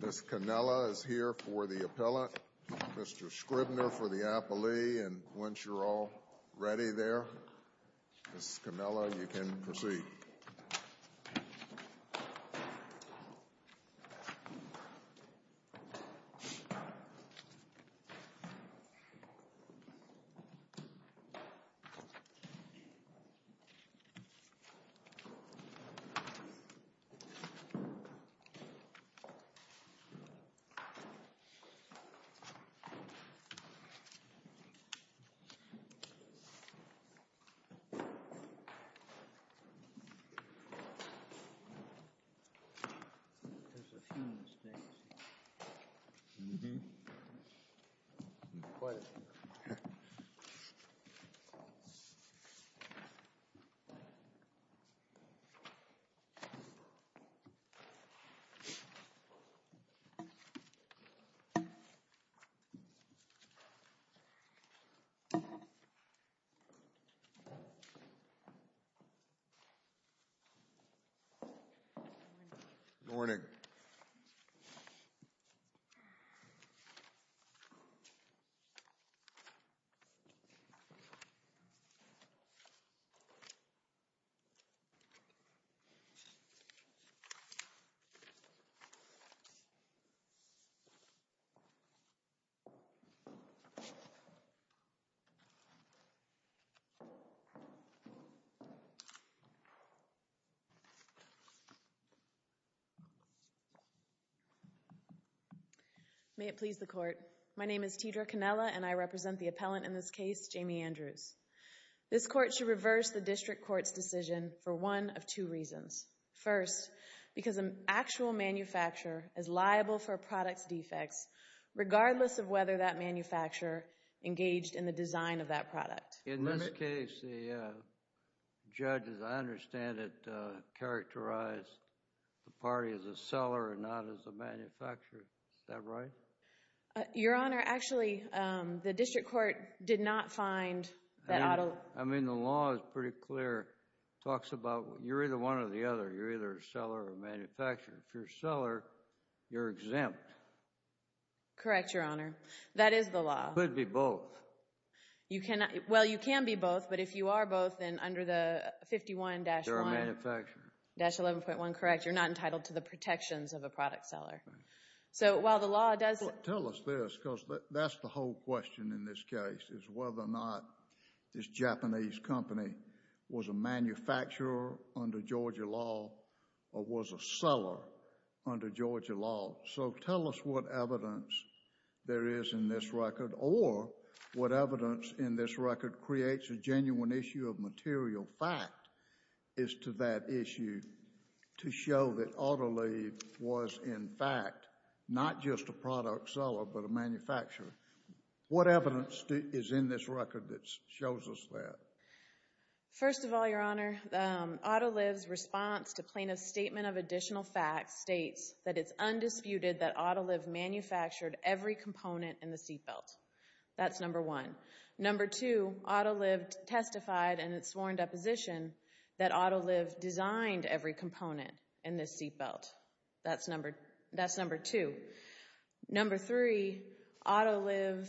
Ms. Canella is here for the appellate, Mr. Scribner for the appellee, and once you're all ready there, Ms. Canella, you can proceed. There's a few mistakes. Mm-hmm. Quiet. Okay. Mm-hmm. Mm-hmm. Mm-hmm. Mm-hmm. Mm-hmm. Mm-hmm. Mm-hmm. Mm-hmm. Mm-hmm. Mm-hmm. Mm-hmm. Mm-hmm. Good morning. Good morning, everyone. May it please the court. My name is Teedra Canella, and I represent the appellant in this case, Jamie Andrews. This court should reverse the district court's decision for one of two reasons. First, because an actual manufacturer is liable for a product's defects, regardless of whether that manufacturer engaged in the design of that product. In this case, the judge, as I understand it, characterized the party as a seller and not as a manufacturer. Is that right? Your Honor, actually, the district court did not find that out of the law. I mean, the law is pretty clear. It talks about you're either one or the other. You're either a seller or a manufacturer. If you're a seller, you're exempt. Correct, Your Honor. That is the law. It could be both. Well, you can be both, but if you are both, then under the 51-1. You're a manufacturer. Dash 11.1, correct. You're not entitled to the protections of a product seller. So while the law does... Tell us this, because that's the whole question in this case, is whether or not this Japanese company was a manufacturer under Georgia law or was a seller under Georgia law. So tell us what evidence there is in this record or what evidence in this record creates a genuine issue of material fact as to that issue to show that Autoliv was, in fact, not just a product seller but a manufacturer. What evidence is in this record that shows us that? First of all, Your Honor, Autoliv's response to plaintiff's statement of additional facts states that it's undisputed that Autoliv manufactured every component in the seat belt. That's number one. Number two, Autoliv testified in its sworn deposition that Autoliv designed every component in this seat belt. That's number two. Number three, Autoliv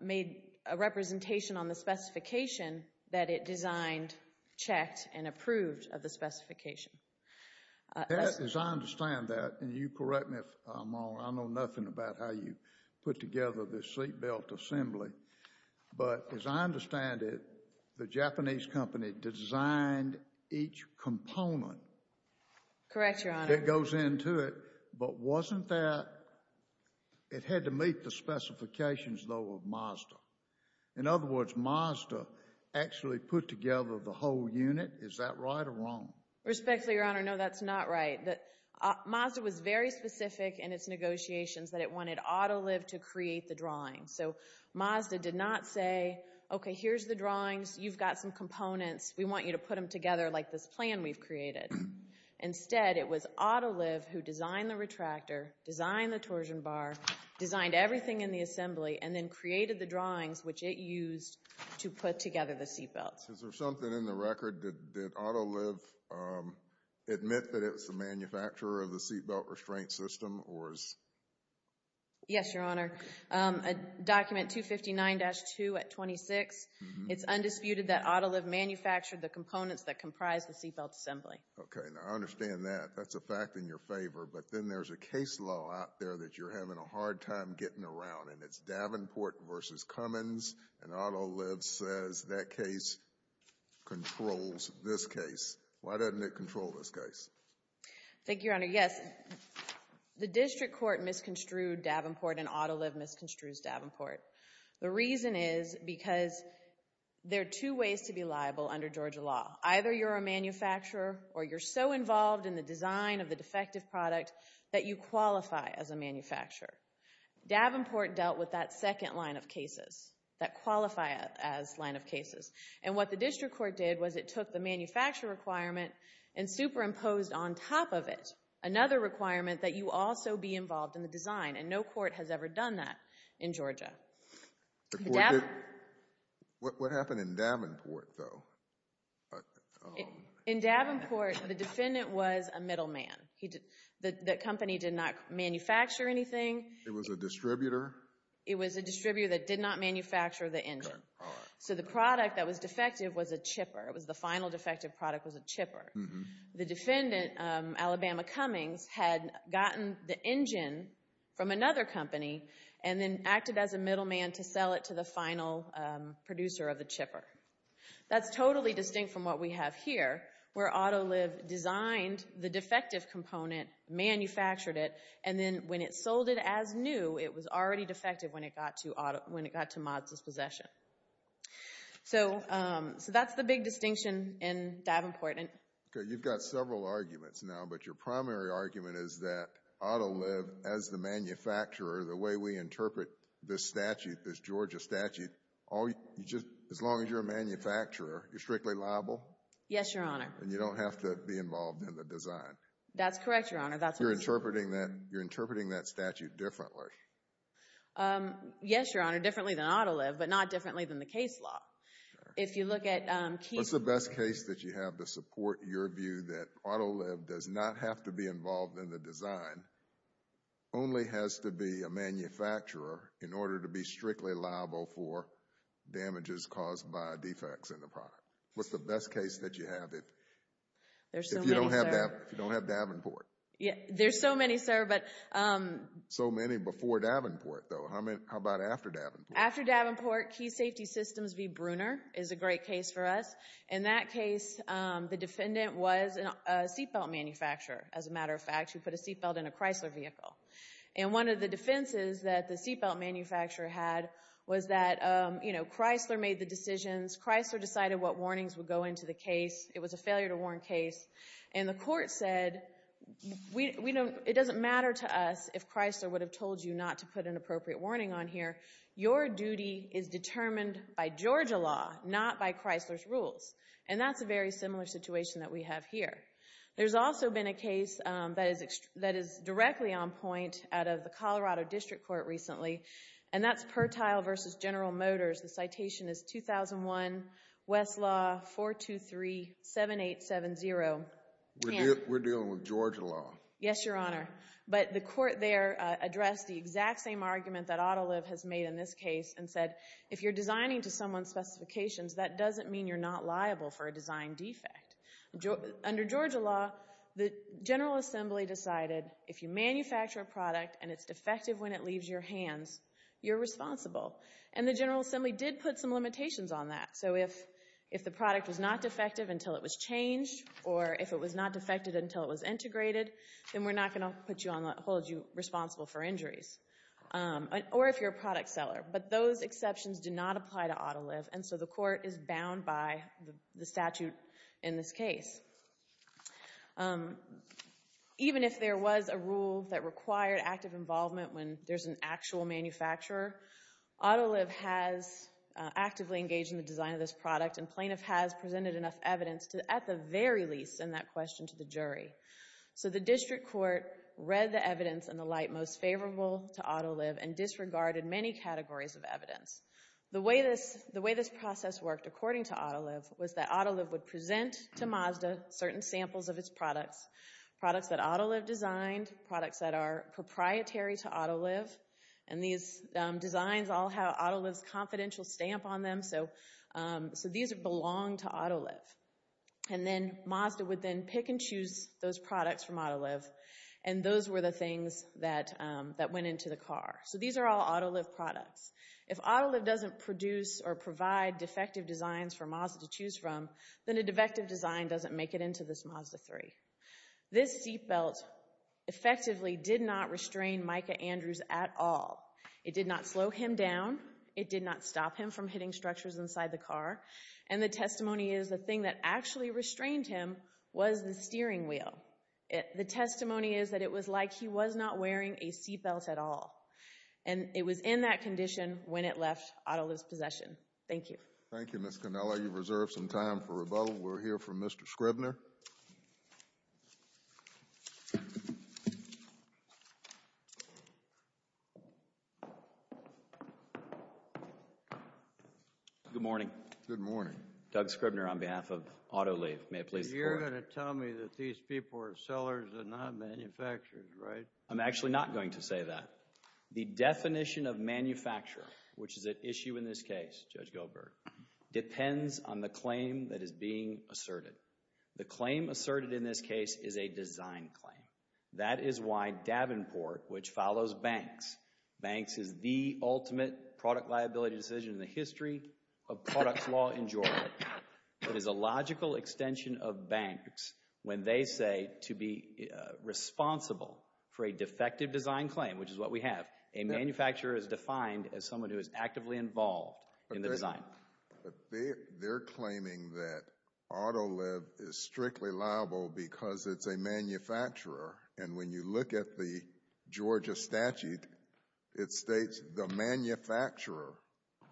made a representation on the specification that it designed, checked, and approved of the specification. As I understand that, and you correct me if I'm wrong, I know nothing about how you put together this seat belt assembly. But as I understand it, the Japanese company designed each component. Correct, Your Honor. That goes into it. But wasn't that—it had to meet the specifications, though, of Mazda. In other words, Mazda actually put together the whole unit. Is that right or wrong? Respectfully, Your Honor, no, that's not right. Mazda was very specific in its negotiations that it wanted Autoliv to create the drawings. So Mazda did not say, okay, here's the drawings. You've got some components. We want you to put them together like this plan we've created. Instead, it was Autoliv who designed the retractor, designed the torsion bar, designed everything in the assembly, and then created the drawings which it used to put together the seat belts. Is there something in the record? Did Autoliv admit that it's the manufacturer of the seat belt restraint system? Yes, Your Honor. Document 259-2 at 26. It's undisputed that Autoliv manufactured the components that comprise the seat belt assembly. Okay, I understand that. That's a fact in your favor. But then there's a case law out there that you're having a hard time getting around, and it's Davenport v. Cummins, and Autoliv says that case controls this case. Thank you, Your Honor. Yes, the district court misconstrued Davenport and Autoliv misconstrues Davenport. The reason is because there are two ways to be liable under Georgia law. Either you're a manufacturer or you're so involved in the design of the defective product that you qualify as a manufacturer. Davenport dealt with that second line of cases, that qualify as line of cases. And what the district court did was it took the manufacturer requirement and superimposed on top of it another requirement that you also be involved in the design, and no court has ever done that in Georgia. What happened in Davenport, though? In Davenport, the defendant was a middleman. The company did not manufacture anything. It was a distributor? It was a distributor that did not manufacture the engine. So the product that was defective was a chipper. It was the final defective product was a chipper. The defendant, Alabama Cummins, had gotten the engine from another company and then acted as a middleman to sell it to the final producer of the chipper. That's totally distinct from what we have here, where Autoliv designed the defective component, manufactured it, and then when it sold it as new, it was already defective when it got to Mott's possession. So that's the big distinction in Davenport. Okay, you've got several arguments now, but your primary argument is that Autoliv, as the manufacturer, the way we interpret this statute, this Georgia statute, as long as you're a manufacturer, you're strictly liable? Yes, Your Honor. And you don't have to be involved in the design? That's correct, Your Honor. You're interpreting that statute differently? Yes, Your Honor, differently than Autoliv, but not differently than the case law. What's the best case that you have to support your view that Autoliv does not have to be involved in the design, only has to be a manufacturer in order to be strictly liable for damages caused by defects in the product? What's the best case that you have? There's so many, sir. If you don't have Davenport. There's so many, sir. So many before Davenport, though. How about after Davenport? After Davenport, Key Safety Systems v. Brunner is a great case for us. In that case, the defendant was a seatbelt manufacturer. As a matter of fact, she put a seatbelt in a Chrysler vehicle. And one of the defenses that the seatbelt manufacturer had was that Chrysler made the decisions. Chrysler decided what warnings would go into the case. It was a failure to warn case. And the court said, it doesn't matter to us if Chrysler would have told you not to put an appropriate warning on here. Your duty is determined by Georgia law, not by Chrysler's rules. And that's a very similar situation that we have here. There's also been a case that is directly on point out of the Colorado District Court recently, and that's Pertile v. General Motors. The citation is 2001 Westlaw 4237870. We're dealing with Georgia law. Yes, Your Honor. But the court there addressed the exact same argument that Autoliv has made in this case and said if you're designing to someone's specifications, that doesn't mean you're not liable for a design defect. Under Georgia law, the General Assembly decided if you manufacture a product and it's defective when it leaves your hands, you're responsible. And the General Assembly did put some limitations on that. So if the product was not defective until it was changed, or if it was not defective until it was integrated, then we're not going to hold you responsible for injuries. Or if you're a product seller. But those exceptions do not apply to Autoliv, and so the court is bound by the statute in this case. Even if there was a rule that required active involvement when there's an actual manufacturer, Autoliv has actively engaged in the design of this product, and plaintiff has presented enough evidence at the very least in that question to the jury. So the District Court read the evidence in the light most favorable to Autoliv and disregarded many categories of evidence. The way this process worked, according to Autoliv, was that Autoliv would present to Mazda certain samples of its products, products that Autoliv designed, products that are proprietary to Autoliv. And these designs all have Autoliv's confidential stamp on them, so these belong to Autoliv. And then Mazda would then pick and choose those products from Autoliv, and those were the things that went into the car. So these are all Autoliv products. If Autoliv doesn't produce or provide defective designs for Mazda to choose from, then a defective design doesn't make it into this Mazda 3. This seat belt effectively did not restrain Micah Andrews at all. It did not slow him down. It did not stop him from hitting structures inside the car. And the testimony is the thing that actually restrained him was the steering wheel. The testimony is that it was like he was not wearing a seat belt at all, and it was in that condition when it left Autoliv's possession. Thank you. Thank you, Ms. Cannella. You've reserved some time for rebuttal. We'll hear from Mr. Scribner. Good morning. Good morning. Doug Scribner on behalf of Autoliv. You're going to tell me that these people are sellers and not manufacturers, right? I'm actually not going to say that. The definition of manufacturer, which is at issue in this case, Judge Gilbert, depends on the claim that is being asserted. The claim asserted in this case is a design claim. That is why Davenport, which follows Banks, Banks is the ultimate product liability decision in the history of products law in Georgia, is a logical extension of Banks when they say to be responsible for a defective design claim, which is what we have. A manufacturer is defined as someone who is actively involved in the design. They're claiming that Autoliv is strictly liable because it's a manufacturer, and when you look at the Georgia statute, it states the manufacturer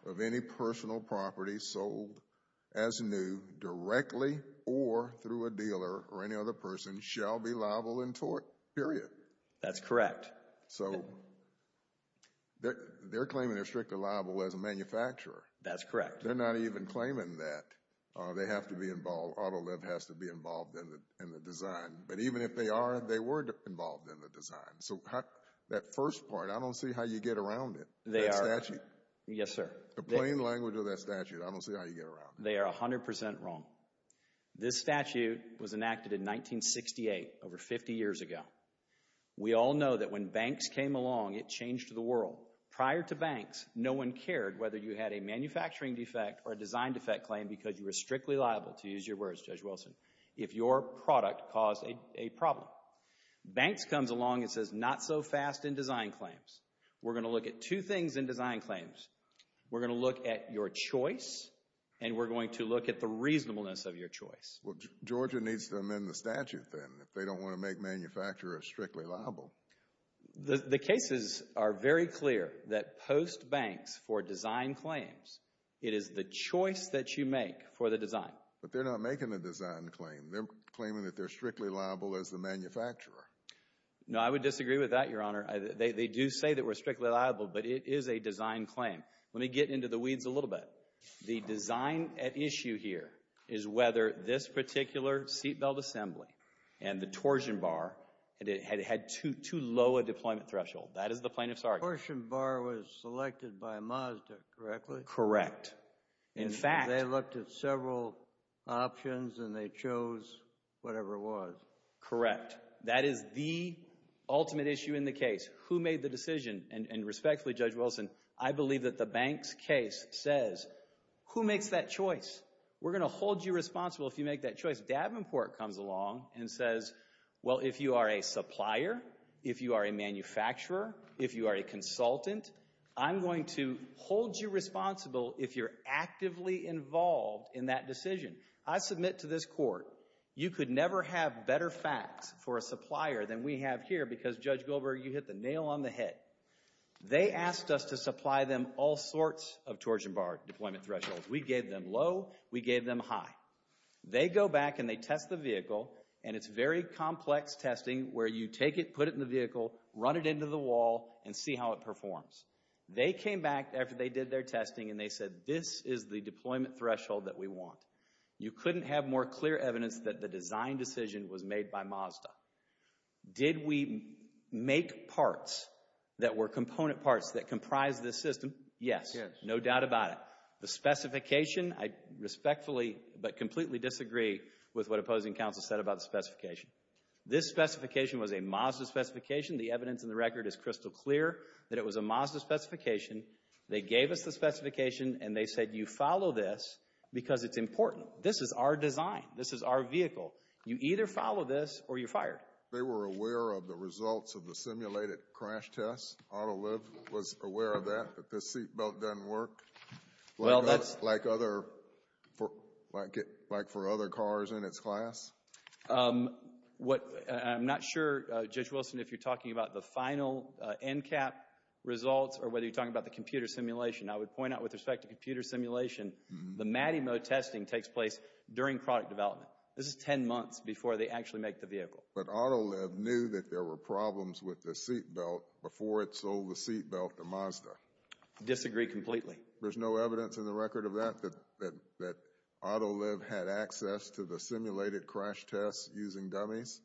of any personal property sold as new directly or through a dealer or any other person shall be liable in tort, period. That's correct. So they're claiming they're strictly liable as a manufacturer. That's correct. They're not even claiming that. They have to be involved. Autoliv has to be involved in the design. But even if they are, they were involved in the design. So that first part, I don't see how you get around it, that statute. Yes, sir. The plain language of that statute, I don't see how you get around it. They are 100% wrong. This statute was enacted in 1968, over 50 years ago. We all know that when Banks came along, it changed the world. Prior to Banks, no one cared whether you had a manufacturing defect or a design defect claim because you were strictly liable, to use your words, Judge Wilson, if your product caused a problem. Banks comes along and says, not so fast in design claims. We're going to look at two things in design claims. We're going to look at your choice, and we're going to look at the reasonableness of your choice. Well, Georgia needs to amend the statute then if they don't want to make manufacturers strictly liable. The cases are very clear that post-Banks for design claims, it is the choice that you make for the design. But they're not making a design claim. They're claiming that they're strictly liable as the manufacturer. No, I would disagree with that, Your Honor. They do say that we're strictly liable, but it is a design claim. Let me get into the weeds a little bit. The design at issue here is whether this particular seat belt assembly and the torsion bar had had too low a deployment threshold. That is the plaintiff's argument. The torsion bar was selected by Mazda, correctly? Correct. They looked at several options, and they chose whatever it was. Correct. That is the ultimate issue in the case, who made the decision. And respectfully, Judge Wilson, I believe that the Banks case says, who makes that choice? We're going to hold you responsible if you make that choice. Davenport comes along and says, well, if you are a supplier, if you are a manufacturer, if you are a consultant, I'm going to hold you responsible if you're actively involved in that decision. I submit to this court, you could never have better facts for a supplier than we have here because, Judge Goldberg, you hit the nail on the head. They asked us to supply them all sorts of torsion bar deployment thresholds. We gave them low. We gave them high. They go back and they test the vehicle, and it's very complex testing where you take it, put it in the vehicle, run it into the wall, and see how it performs. They came back after they did their testing and they said, this is the deployment threshold that we want. You couldn't have more clear evidence that the design decision was made by Mazda. Did we make parts that were component parts that comprise this system? Yes. No doubt about it. The specification, I respectfully but completely disagree with what opposing counsel said about the specification. This specification was a Mazda specification. The evidence in the record is crystal clear that it was a Mazda specification. They gave us the specification and they said, you follow this because it's important. This is our design. This is our vehicle. You either follow this or you're fired. They were aware of the results of the simulated crash test? Autoliv was aware of that, that the seatbelt doesn't work? Like for other cars in its class? I'm not sure, Judge Wilson, if you're talking about the final NCAP results or whether you're talking about the computer simulation. I would point out with respect to computer simulation, the MADI mode testing takes place during product development. This is 10 months before they actually make the vehicle. But Autoliv knew that there were problems with the seatbelt before it sold the seatbelt to Mazda? Disagree completely. There's no evidence in the record of that, that Autoliv had access to the simulated crash tests using dummies?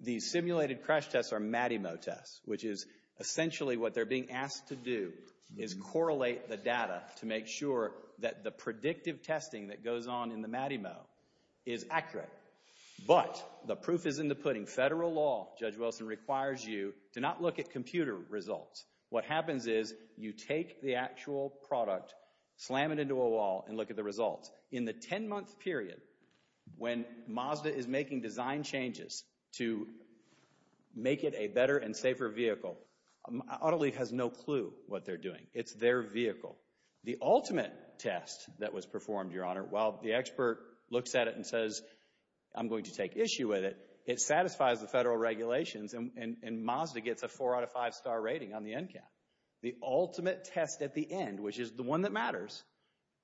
The simulated crash tests are MADI mode tests, which is essentially what they're being asked to do is correlate the data to make sure that the predictive testing that goes on in the MADI mode is accurate. But the proof is in the pudding. Federal law, Judge Wilson, requires you to not look at computer results. What happens is you take the actual product, slam it into a wall, and look at the results. In the 10-month period when Mazda is making design changes to make it a better and safer vehicle, Autoliv has no clue what they're doing. It's their vehicle. The ultimate test that was performed, Your Honor, while the expert looks at it and says, I'm going to take issue with it, it satisfies the federal regulations, and Mazda gets a 4 out of 5 star rating on the NCAT. The ultimate test at the end, which is the one that matters,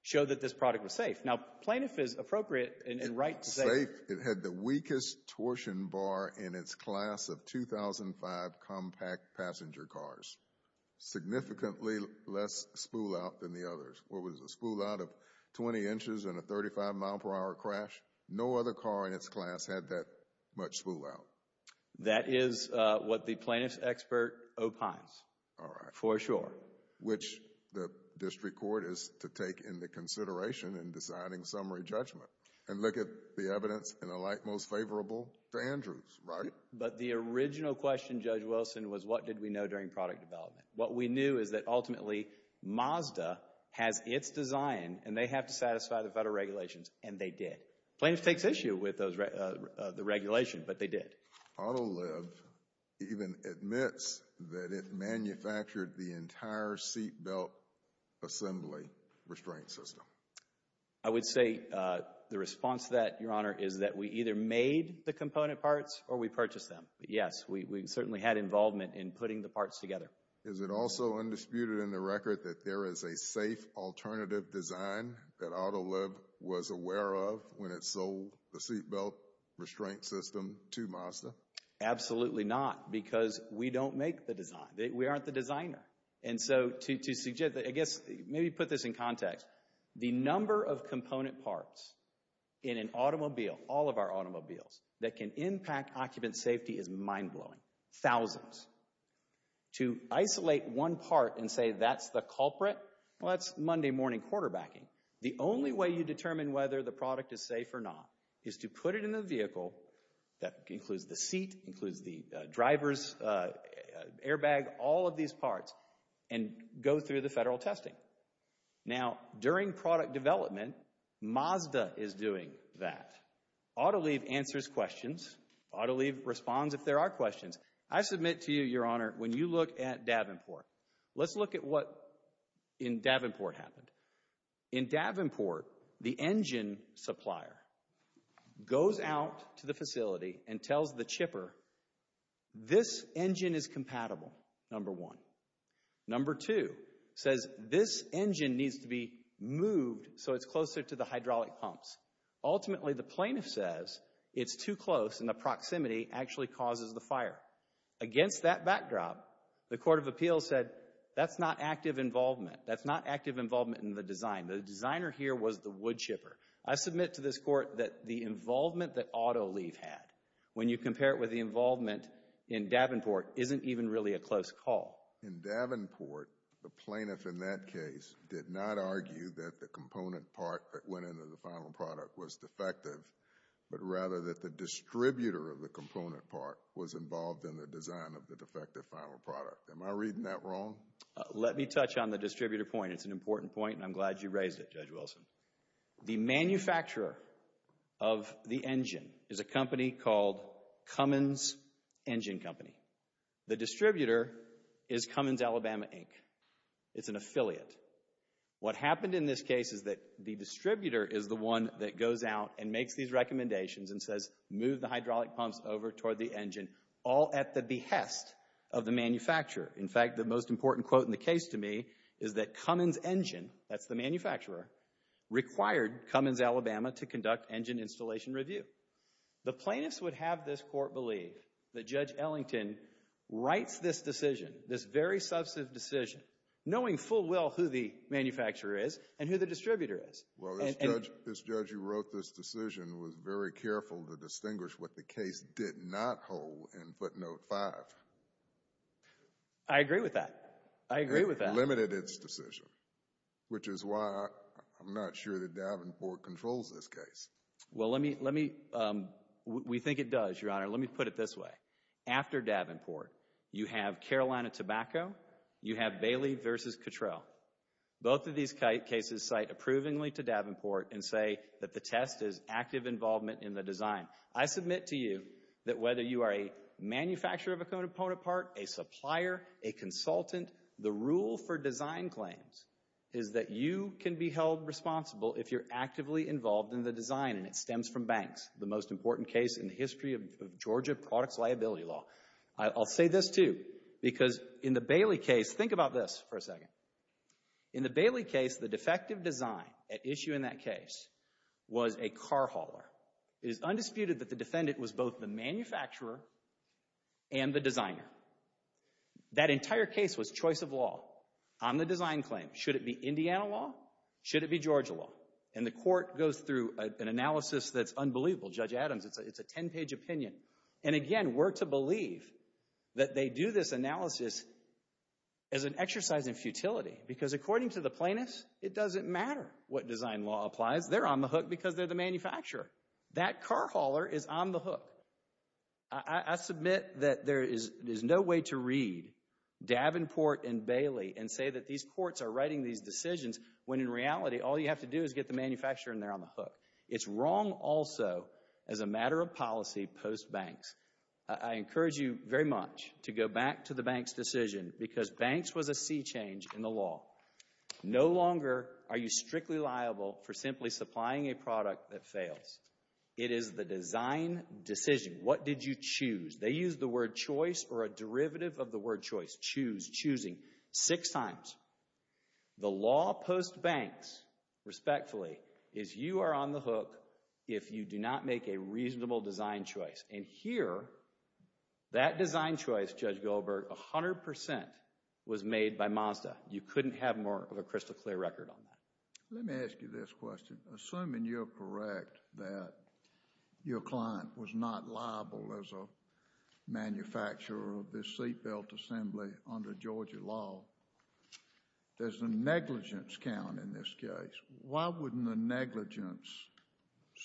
showed that this product was safe. Now plaintiff is appropriate and right to say… It was safe. It had the weakest torsion bar in its class of 2005 compact passenger cars. Significantly less spool-out than the others. What was the spool-out of 20 inches in a 35-mile-per-hour crash? No other car in its class had that much spool-out. That is what the plaintiff's expert opines. All right. For sure. Which the district court is to take into consideration in deciding summary judgment and look at the evidence in the light most favorable to Andrews, right? But the original question, Judge Wilson, was what did we know during product development? What we knew is that ultimately Mazda has its design and they have to satisfy the federal regulations, and they did. Plaintiff takes issue with the regulation, but they did. Autoliv even admits that it manufactured the entire seat belt assembly restraint system. I would say the response to that, Your Honor, is that we either made the component parts or we purchased them. Yes, we certainly had involvement in putting the parts together. Is it also undisputed in the record that there is a safe alternative design that Autoliv was aware of when it sold the seat belt restraint system to Mazda? Absolutely not, because we don't make the design. We aren't the designer. And so to suggest that, I guess, maybe put this in context. The number of component parts in an automobile, all of our automobiles, that can impact occupant safety is mind-blowing. Thousands. To isolate one part and say that's the culprit, well, that's Monday morning quarterbacking. The only way you determine whether the product is safe or not is to put it in the vehicle, that includes the seat, includes the driver's airbag, all of these parts, and go through the federal testing. Now, during product development, Mazda is doing that. Autoliv answers questions. Autoliv responds if there are questions. I submit to you, Your Honor, when you look at Davenport, let's look at what in Davenport happened. In Davenport, the engine supplier goes out to the facility and tells the chipper this engine is compatible, number one. Number two says this engine needs to be moved so it's closer to the hydraulic pumps. Ultimately, the plaintiff says it's too close and the proximity actually causes the fire. Against that backdrop, the Court of Appeals said that's not active involvement. That's not active involvement in the design. The designer here was the wood chipper. I submit to this Court that the involvement that Autoliv had, when you compare it with the involvement in Davenport, isn't even really a close call. In Davenport, the plaintiff in that case did not argue that the component part that went into the final product was defective, but rather that the distributor of the component part was involved in the design of the defective final product. Am I reading that wrong? Let me touch on the distributor point. It's an important point, and I'm glad you raised it, Judge Wilson. The manufacturer of the engine is a company called Cummins Engine Company. The distributor is Cummins Alabama Inc. It's an affiliate. What happened in this case is that the distributor is the one that goes out and makes these recommendations and says, move the hydraulic pumps over toward the engine, all at the behest of the manufacturer. In fact, the most important quote in the case to me is that Cummins Engine, that's the manufacturer, required Cummins Alabama to conduct engine installation review. The plaintiffs would have this Court believe that Judge Ellington writes this decision, this very substantive decision, knowing full well who the manufacturer is and who the distributor is. Well, this judge who wrote this decision was very careful to distinguish what the case did not hold in footnote 5. I agree with that. I agree with that. It limited its decision, which is why I'm not sure that Davenport controls this case. Well, we think it does, Your Honor. Let me put it this way. After Davenport, you have Carolina Tobacco. You have Bailey v. Cottrell. Both of these cases cite approvingly to Davenport and say that the test is active involvement in the design. I submit to you that whether you are a manufacturer of a component part, a supplier, a consultant, the rule for design claims is that you can be held responsible if you're actively involved in the design, and it stems from banks. The most important case in the history of Georgia products liability law. I'll say this, too, because in the Bailey case, let's think about this for a second. In the Bailey case, the defective design at issue in that case was a car hauler. It is undisputed that the defendant was both the manufacturer and the designer. That entire case was choice of law on the design claim. Should it be Indiana law? Should it be Georgia law? And the court goes through an analysis that's unbelievable. Judge Adams, it's a 10-page opinion. And again, we're to believe that they do this analysis as an exercise in futility because according to the plaintiffs, it doesn't matter what design law applies. They're on the hook because they're the manufacturer. That car hauler is on the hook. I submit that there is no way to read Davenport and Bailey and say that these courts are writing these decisions when in reality all you have to do is get the manufacturer and they're on the hook. It's wrong also as a matter of policy post-Banks. I encourage you very much to go back to the Banks decision because Banks was a sea change in the law. No longer are you strictly liable for simply supplying a product that fails. It is the design decision. What did you choose? They used the word choice or a derivative of the word choice. Choose, choosing six times. The law post-Banks, respectfully, is you are on the hook if you do not make a reasonable design choice. And here, that design choice, Judge Goldberg, 100% was made by Mazda. You couldn't have more of a crystal clear record on that. Let me ask you this question. Assuming you're correct that your client was not liable as a manufacturer of this seat belt assembly under Georgia law, does the negligence count in this case? Why wouldn't the negligence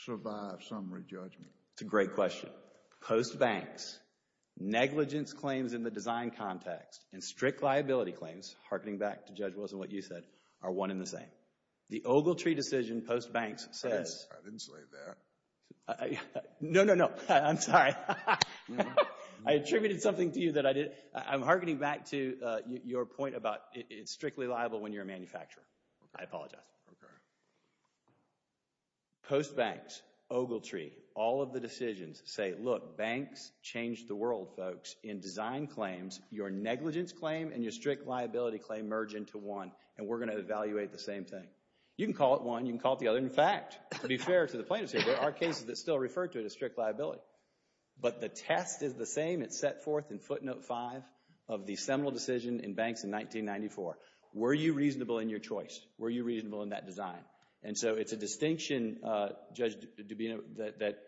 survive summary judgment? That's a great question. Post-Banks, negligence claims in the design context and strict liability claims, hearkening back to Judge Wilson, what you said, are one and the same. The Ogletree decision post-Banks says... I didn't say that. No, no, no, I'm sorry. I attributed something to you that I didn't... I'm hearkening back to your point about it's strictly liable when you're a manufacturer. I apologize. Post-Banks, Ogletree, all of the decisions say, look, banks change the world, folks. In design claims, your negligence claim and your strict liability claim merge into one, and we're going to evaluate the same thing. You can call it one, you can call it the other. But in fact, to be fair to the plaintiffs here, there are cases that still refer to it as strict liability. But the test is the same it set forth in footnote 5 of the seminal decision in Banks in 1994. Were you reasonable in your choice? Were you reasonable in that design? And so it's a distinction, Judge Dubino, that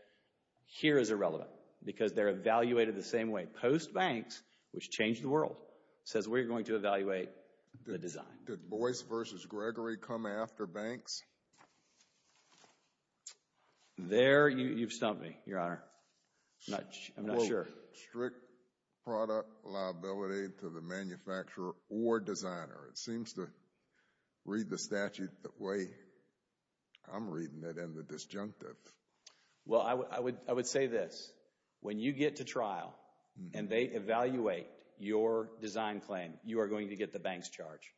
here is irrelevant because they're evaluated the same way. Post-Banks, which changed the world, says we're going to evaluate the design. Did Boyce v. Gregory come after Banks? There, you've stumped me, Your Honor. I'm not sure. Strict product liability to the manufacturer or designer. It seems to read the statute the way I'm reading it in the disjunctive. Well, I would say this. When you get to trial and they evaluate your design claim, you are going to get the bank's charge.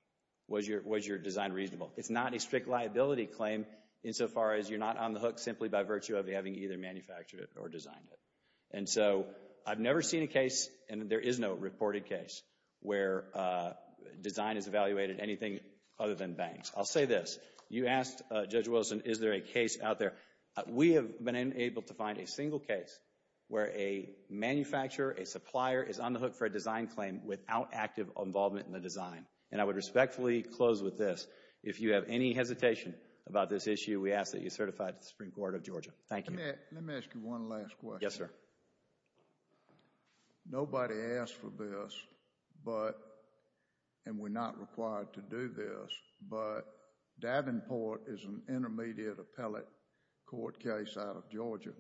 Was your design reasonable? It's not a strict liability claim insofar as you're not on the hook simply by virtue of having either manufactured it or designed it. And so I've never seen a case, and there is no reported case, where design is evaluated anything other than Banks. I'll say this. You asked, Judge Wilson, is there a case out there? We have been able to find a single case where a manufacturer, a supplier, is on the hook for a design claim without active involvement in the design. And I would respectfully close with this. If you have any hesitation about this issue, we ask that you certify it to the Supreme Court of Georgia. Thank you. Let me ask you one last question. Yes, sir. Nobody asked for this, and we're not required to do this, but Davenport is an intermediate appellate court case out of Georgia,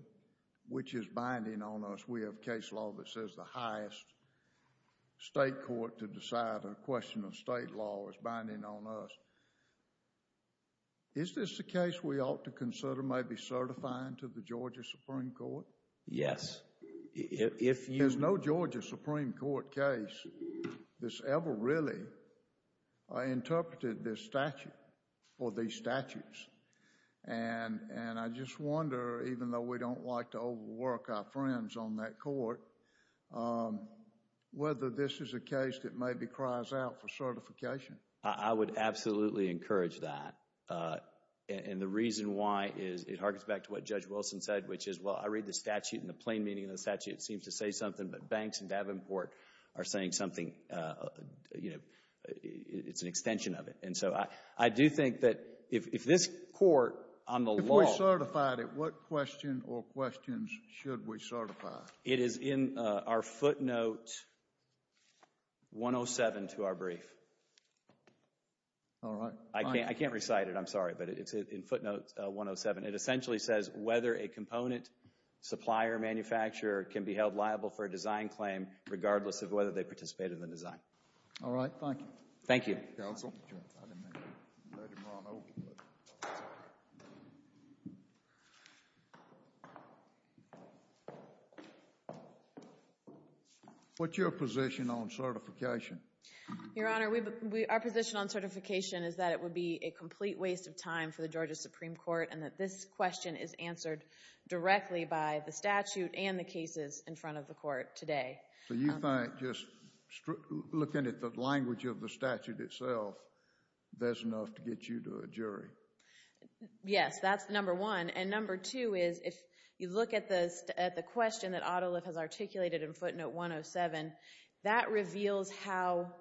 which is binding on us. We have case law that says the highest state court to decide a question of state law is binding on us. Is this a case we ought to consider maybe certifying to the Georgia Supreme Court? Yes. There's no Georgia Supreme Court case that's ever really interpreted this statute or these statutes. And I just wonder, even though we don't like to overwork our friends on that court, whether this is a case that maybe cries out for certification. I would absolutely encourage that. And the reason why is it harkens back to what Judge Wilson said, which is, well, I read the statute and the plain meaning of the statute. It seems to say something, but Banks and Davenport are saying something. It's an extension of it. And so I do think that if this court on the law If we certified it, what question or questions should we certify? It is in our footnote 107 to our brief. All right. I can't recite it. I'm sorry, but it's in footnote 107. It essentially says whether a component, supplier, manufacturer can be held liable for a design claim regardless of whether they participate in the design. All right. Thank you. Thank you. What's your position on certification? Your Honor, our position on certification is that it would be a complete waste of time for the Georgia Supreme Court and that this question is answered directly by the statute and the cases in front of the court today. So you think just looking at the language of the statute itself there's enough to get you to a jury? Yes. That's number one. And number two is if you look at the question that Ottoliffe has articulated in footnote 107, that reveals how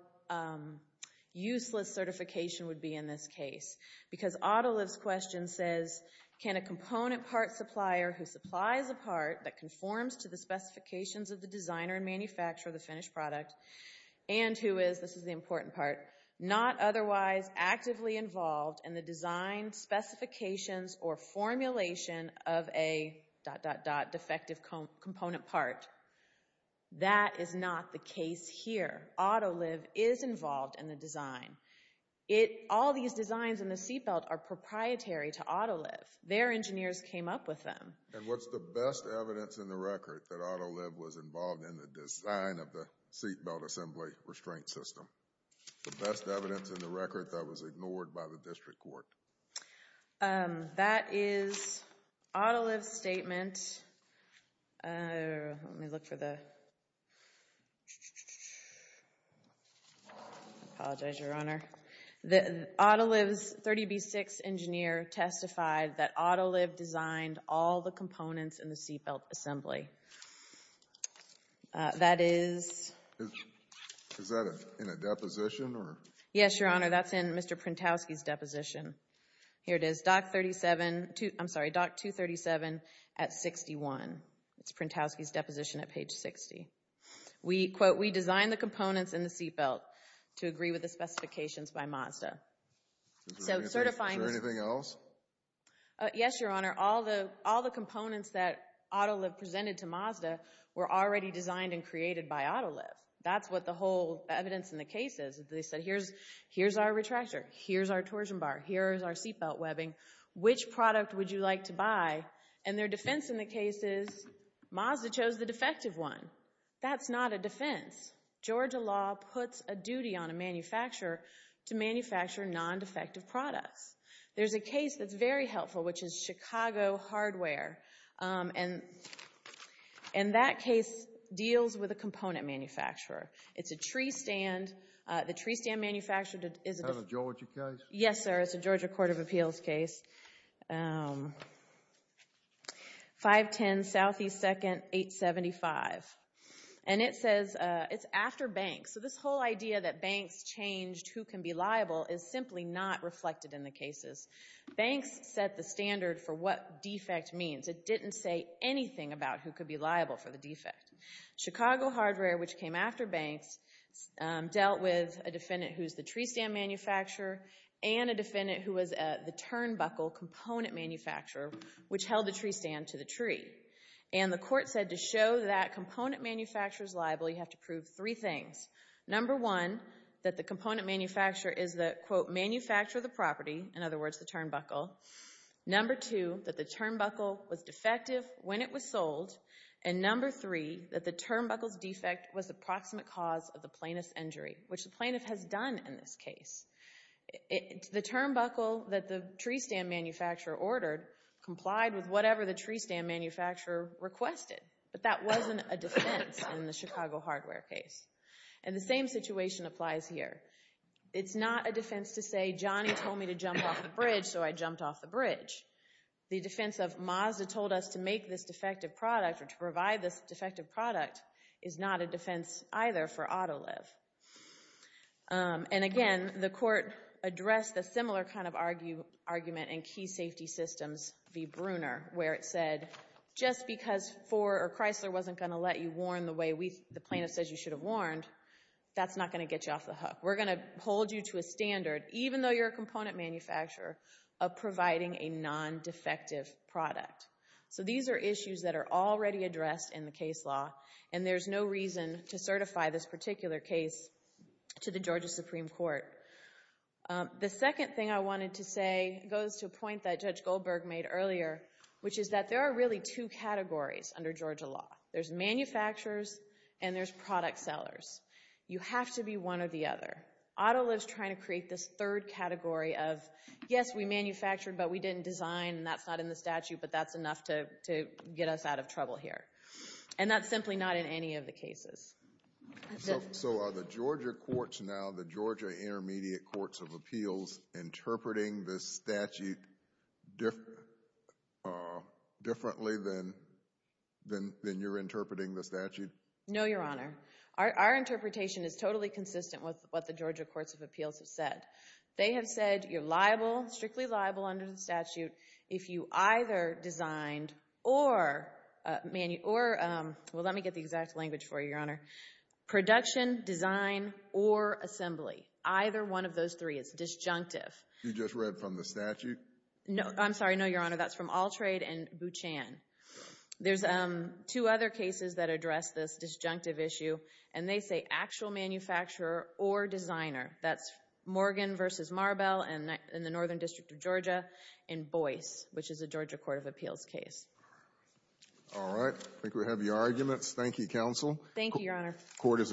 useless certification would be in this case. Because Ottoliffe's question says, can a component part supplier who supplies a part that conforms to the specifications of the designer and manufacturer of the finished product and who is, this is the important part, not otherwise actively involved in the design specifications or formulation of a dot, dot, dot, defective component part. That is not the case here. Ottoliffe is involved in the design. All these designs in the seatbelt are proprietary to Ottoliffe. Their engineers came up with them. And what's the best evidence in the record that Ottoliffe was involved in the design of the seatbelt assembly restraint system? The best evidence in the record that was ignored by the district court? That is Ottoliffe's statement. Let me look for the... I apologize, Your Honor. Ottoliffe's 30B6 engineer testified that Ottoliffe designed all the components in the seatbelt assembly. That is... Is that in a deposition? Yes, Your Honor. That's in Mr. Printowski's deposition. Here it is, doc 237 at 61. It's Printowski's deposition at page 60. We, quote, we designed the components in the seatbelt to agree with the specifications by Mazda. So certifying... Is there anything else? Yes, Your Honor. All the components that Ottoliffe presented to Mazda were already designed and created by Ottoliffe. That's what the whole evidence in the case is. They said here's our retractor, here's our torsion bar, here's our seatbelt webbing. Which product would you like to buy? And their defense in the case is Mazda chose the defective one. That's not a defense. Georgia law puts a duty on a manufacturer to manufacture non-defective products. There's a case that's very helpful, which is Chicago Hardware. And that case deals with a component manufacturer. It's a tree stand. The tree stand manufacturer... Is that a Georgia case? Yes, sir. It's a Georgia Court of Appeals case. 510 Southeast 2nd 875. And it says it's after Banks. So this whole idea that Banks changed who can be liable is simply not reflected in the cases. Banks set the standard for what defect means. It didn't say anything about who could be liable for the defect. Chicago Hardware, which came after Banks, dealt with a defendant who's the tree stand manufacturer and a defendant who was the turnbuckle component manufacturer, which held the tree stand to the tree. And the court said to show that component manufacturer's liable, you have to prove three things. Number one, that the component manufacturer is the, quote, manufacturer of the property. In other words, the turnbuckle. Number two, that the turnbuckle was defective when it was sold. And number three, that the turnbuckle's defect was the proximate cause of the plaintiff's injury, which the plaintiff has done in this case. The turnbuckle that the tree stand manufacturer ordered complied with whatever the tree stand manufacturer requested. But that wasn't a defense in the Chicago Hardware case. And the same situation applies here. It's not a defense to say, Johnny told me to jump off the bridge, so I jumped off the bridge. The defense of Mazda told us to make this defective product or to provide this defective product is not a defense either for Autoliv. And again, the court addressed a similar kind of argument in Key Safety Systems v. Bruner, where it said, just because Chrysler wasn't going to let you warn the way the plaintiff says you should have warned, that's not going to get you off the hook. We're going to hold you to a standard, even though you're a component manufacturer, of providing a non-defective product. So these are issues that are already addressed in the case law, and there's no reason to certify this particular case to the Georgia Supreme Court. The second thing I wanted to say goes to a point that Judge Goldberg made earlier, which is that there are really two categories under Georgia law. There's manufacturers and there's product sellers. You have to be one or the other. Autoliv's trying to create this third category of, yes, we manufactured but we didn't design, and that's not in the statute, but that's enough to get us out of trouble here. And that's simply not in any of the cases. So are the Georgia courts now, the Georgia Intermediate Courts of Appeals, interpreting this statute differently than you're interpreting the statute? No, Your Honor. Our interpretation is totally consistent with what the Georgia Courts of Appeals have said. They have said you're liable, strictly liable under the statute, if you either designed or, well, let me get the exact language for you, Your Honor. Production, design, or assembly, either one of those three is disjunctive. You just read from the statute? I'm sorry, no, Your Honor. That's from Alltrade and Buchan. There's two other cases that address this disjunctive issue, and they say actual manufacturer or designer. That's Morgan v. Marbell in the Northern District of Georgia and Boyce, which is a Georgia Court of Appeals case. All right. I think we have your arguments. Thank you, counsel. Thank you, Your Honor. Court is adjourned.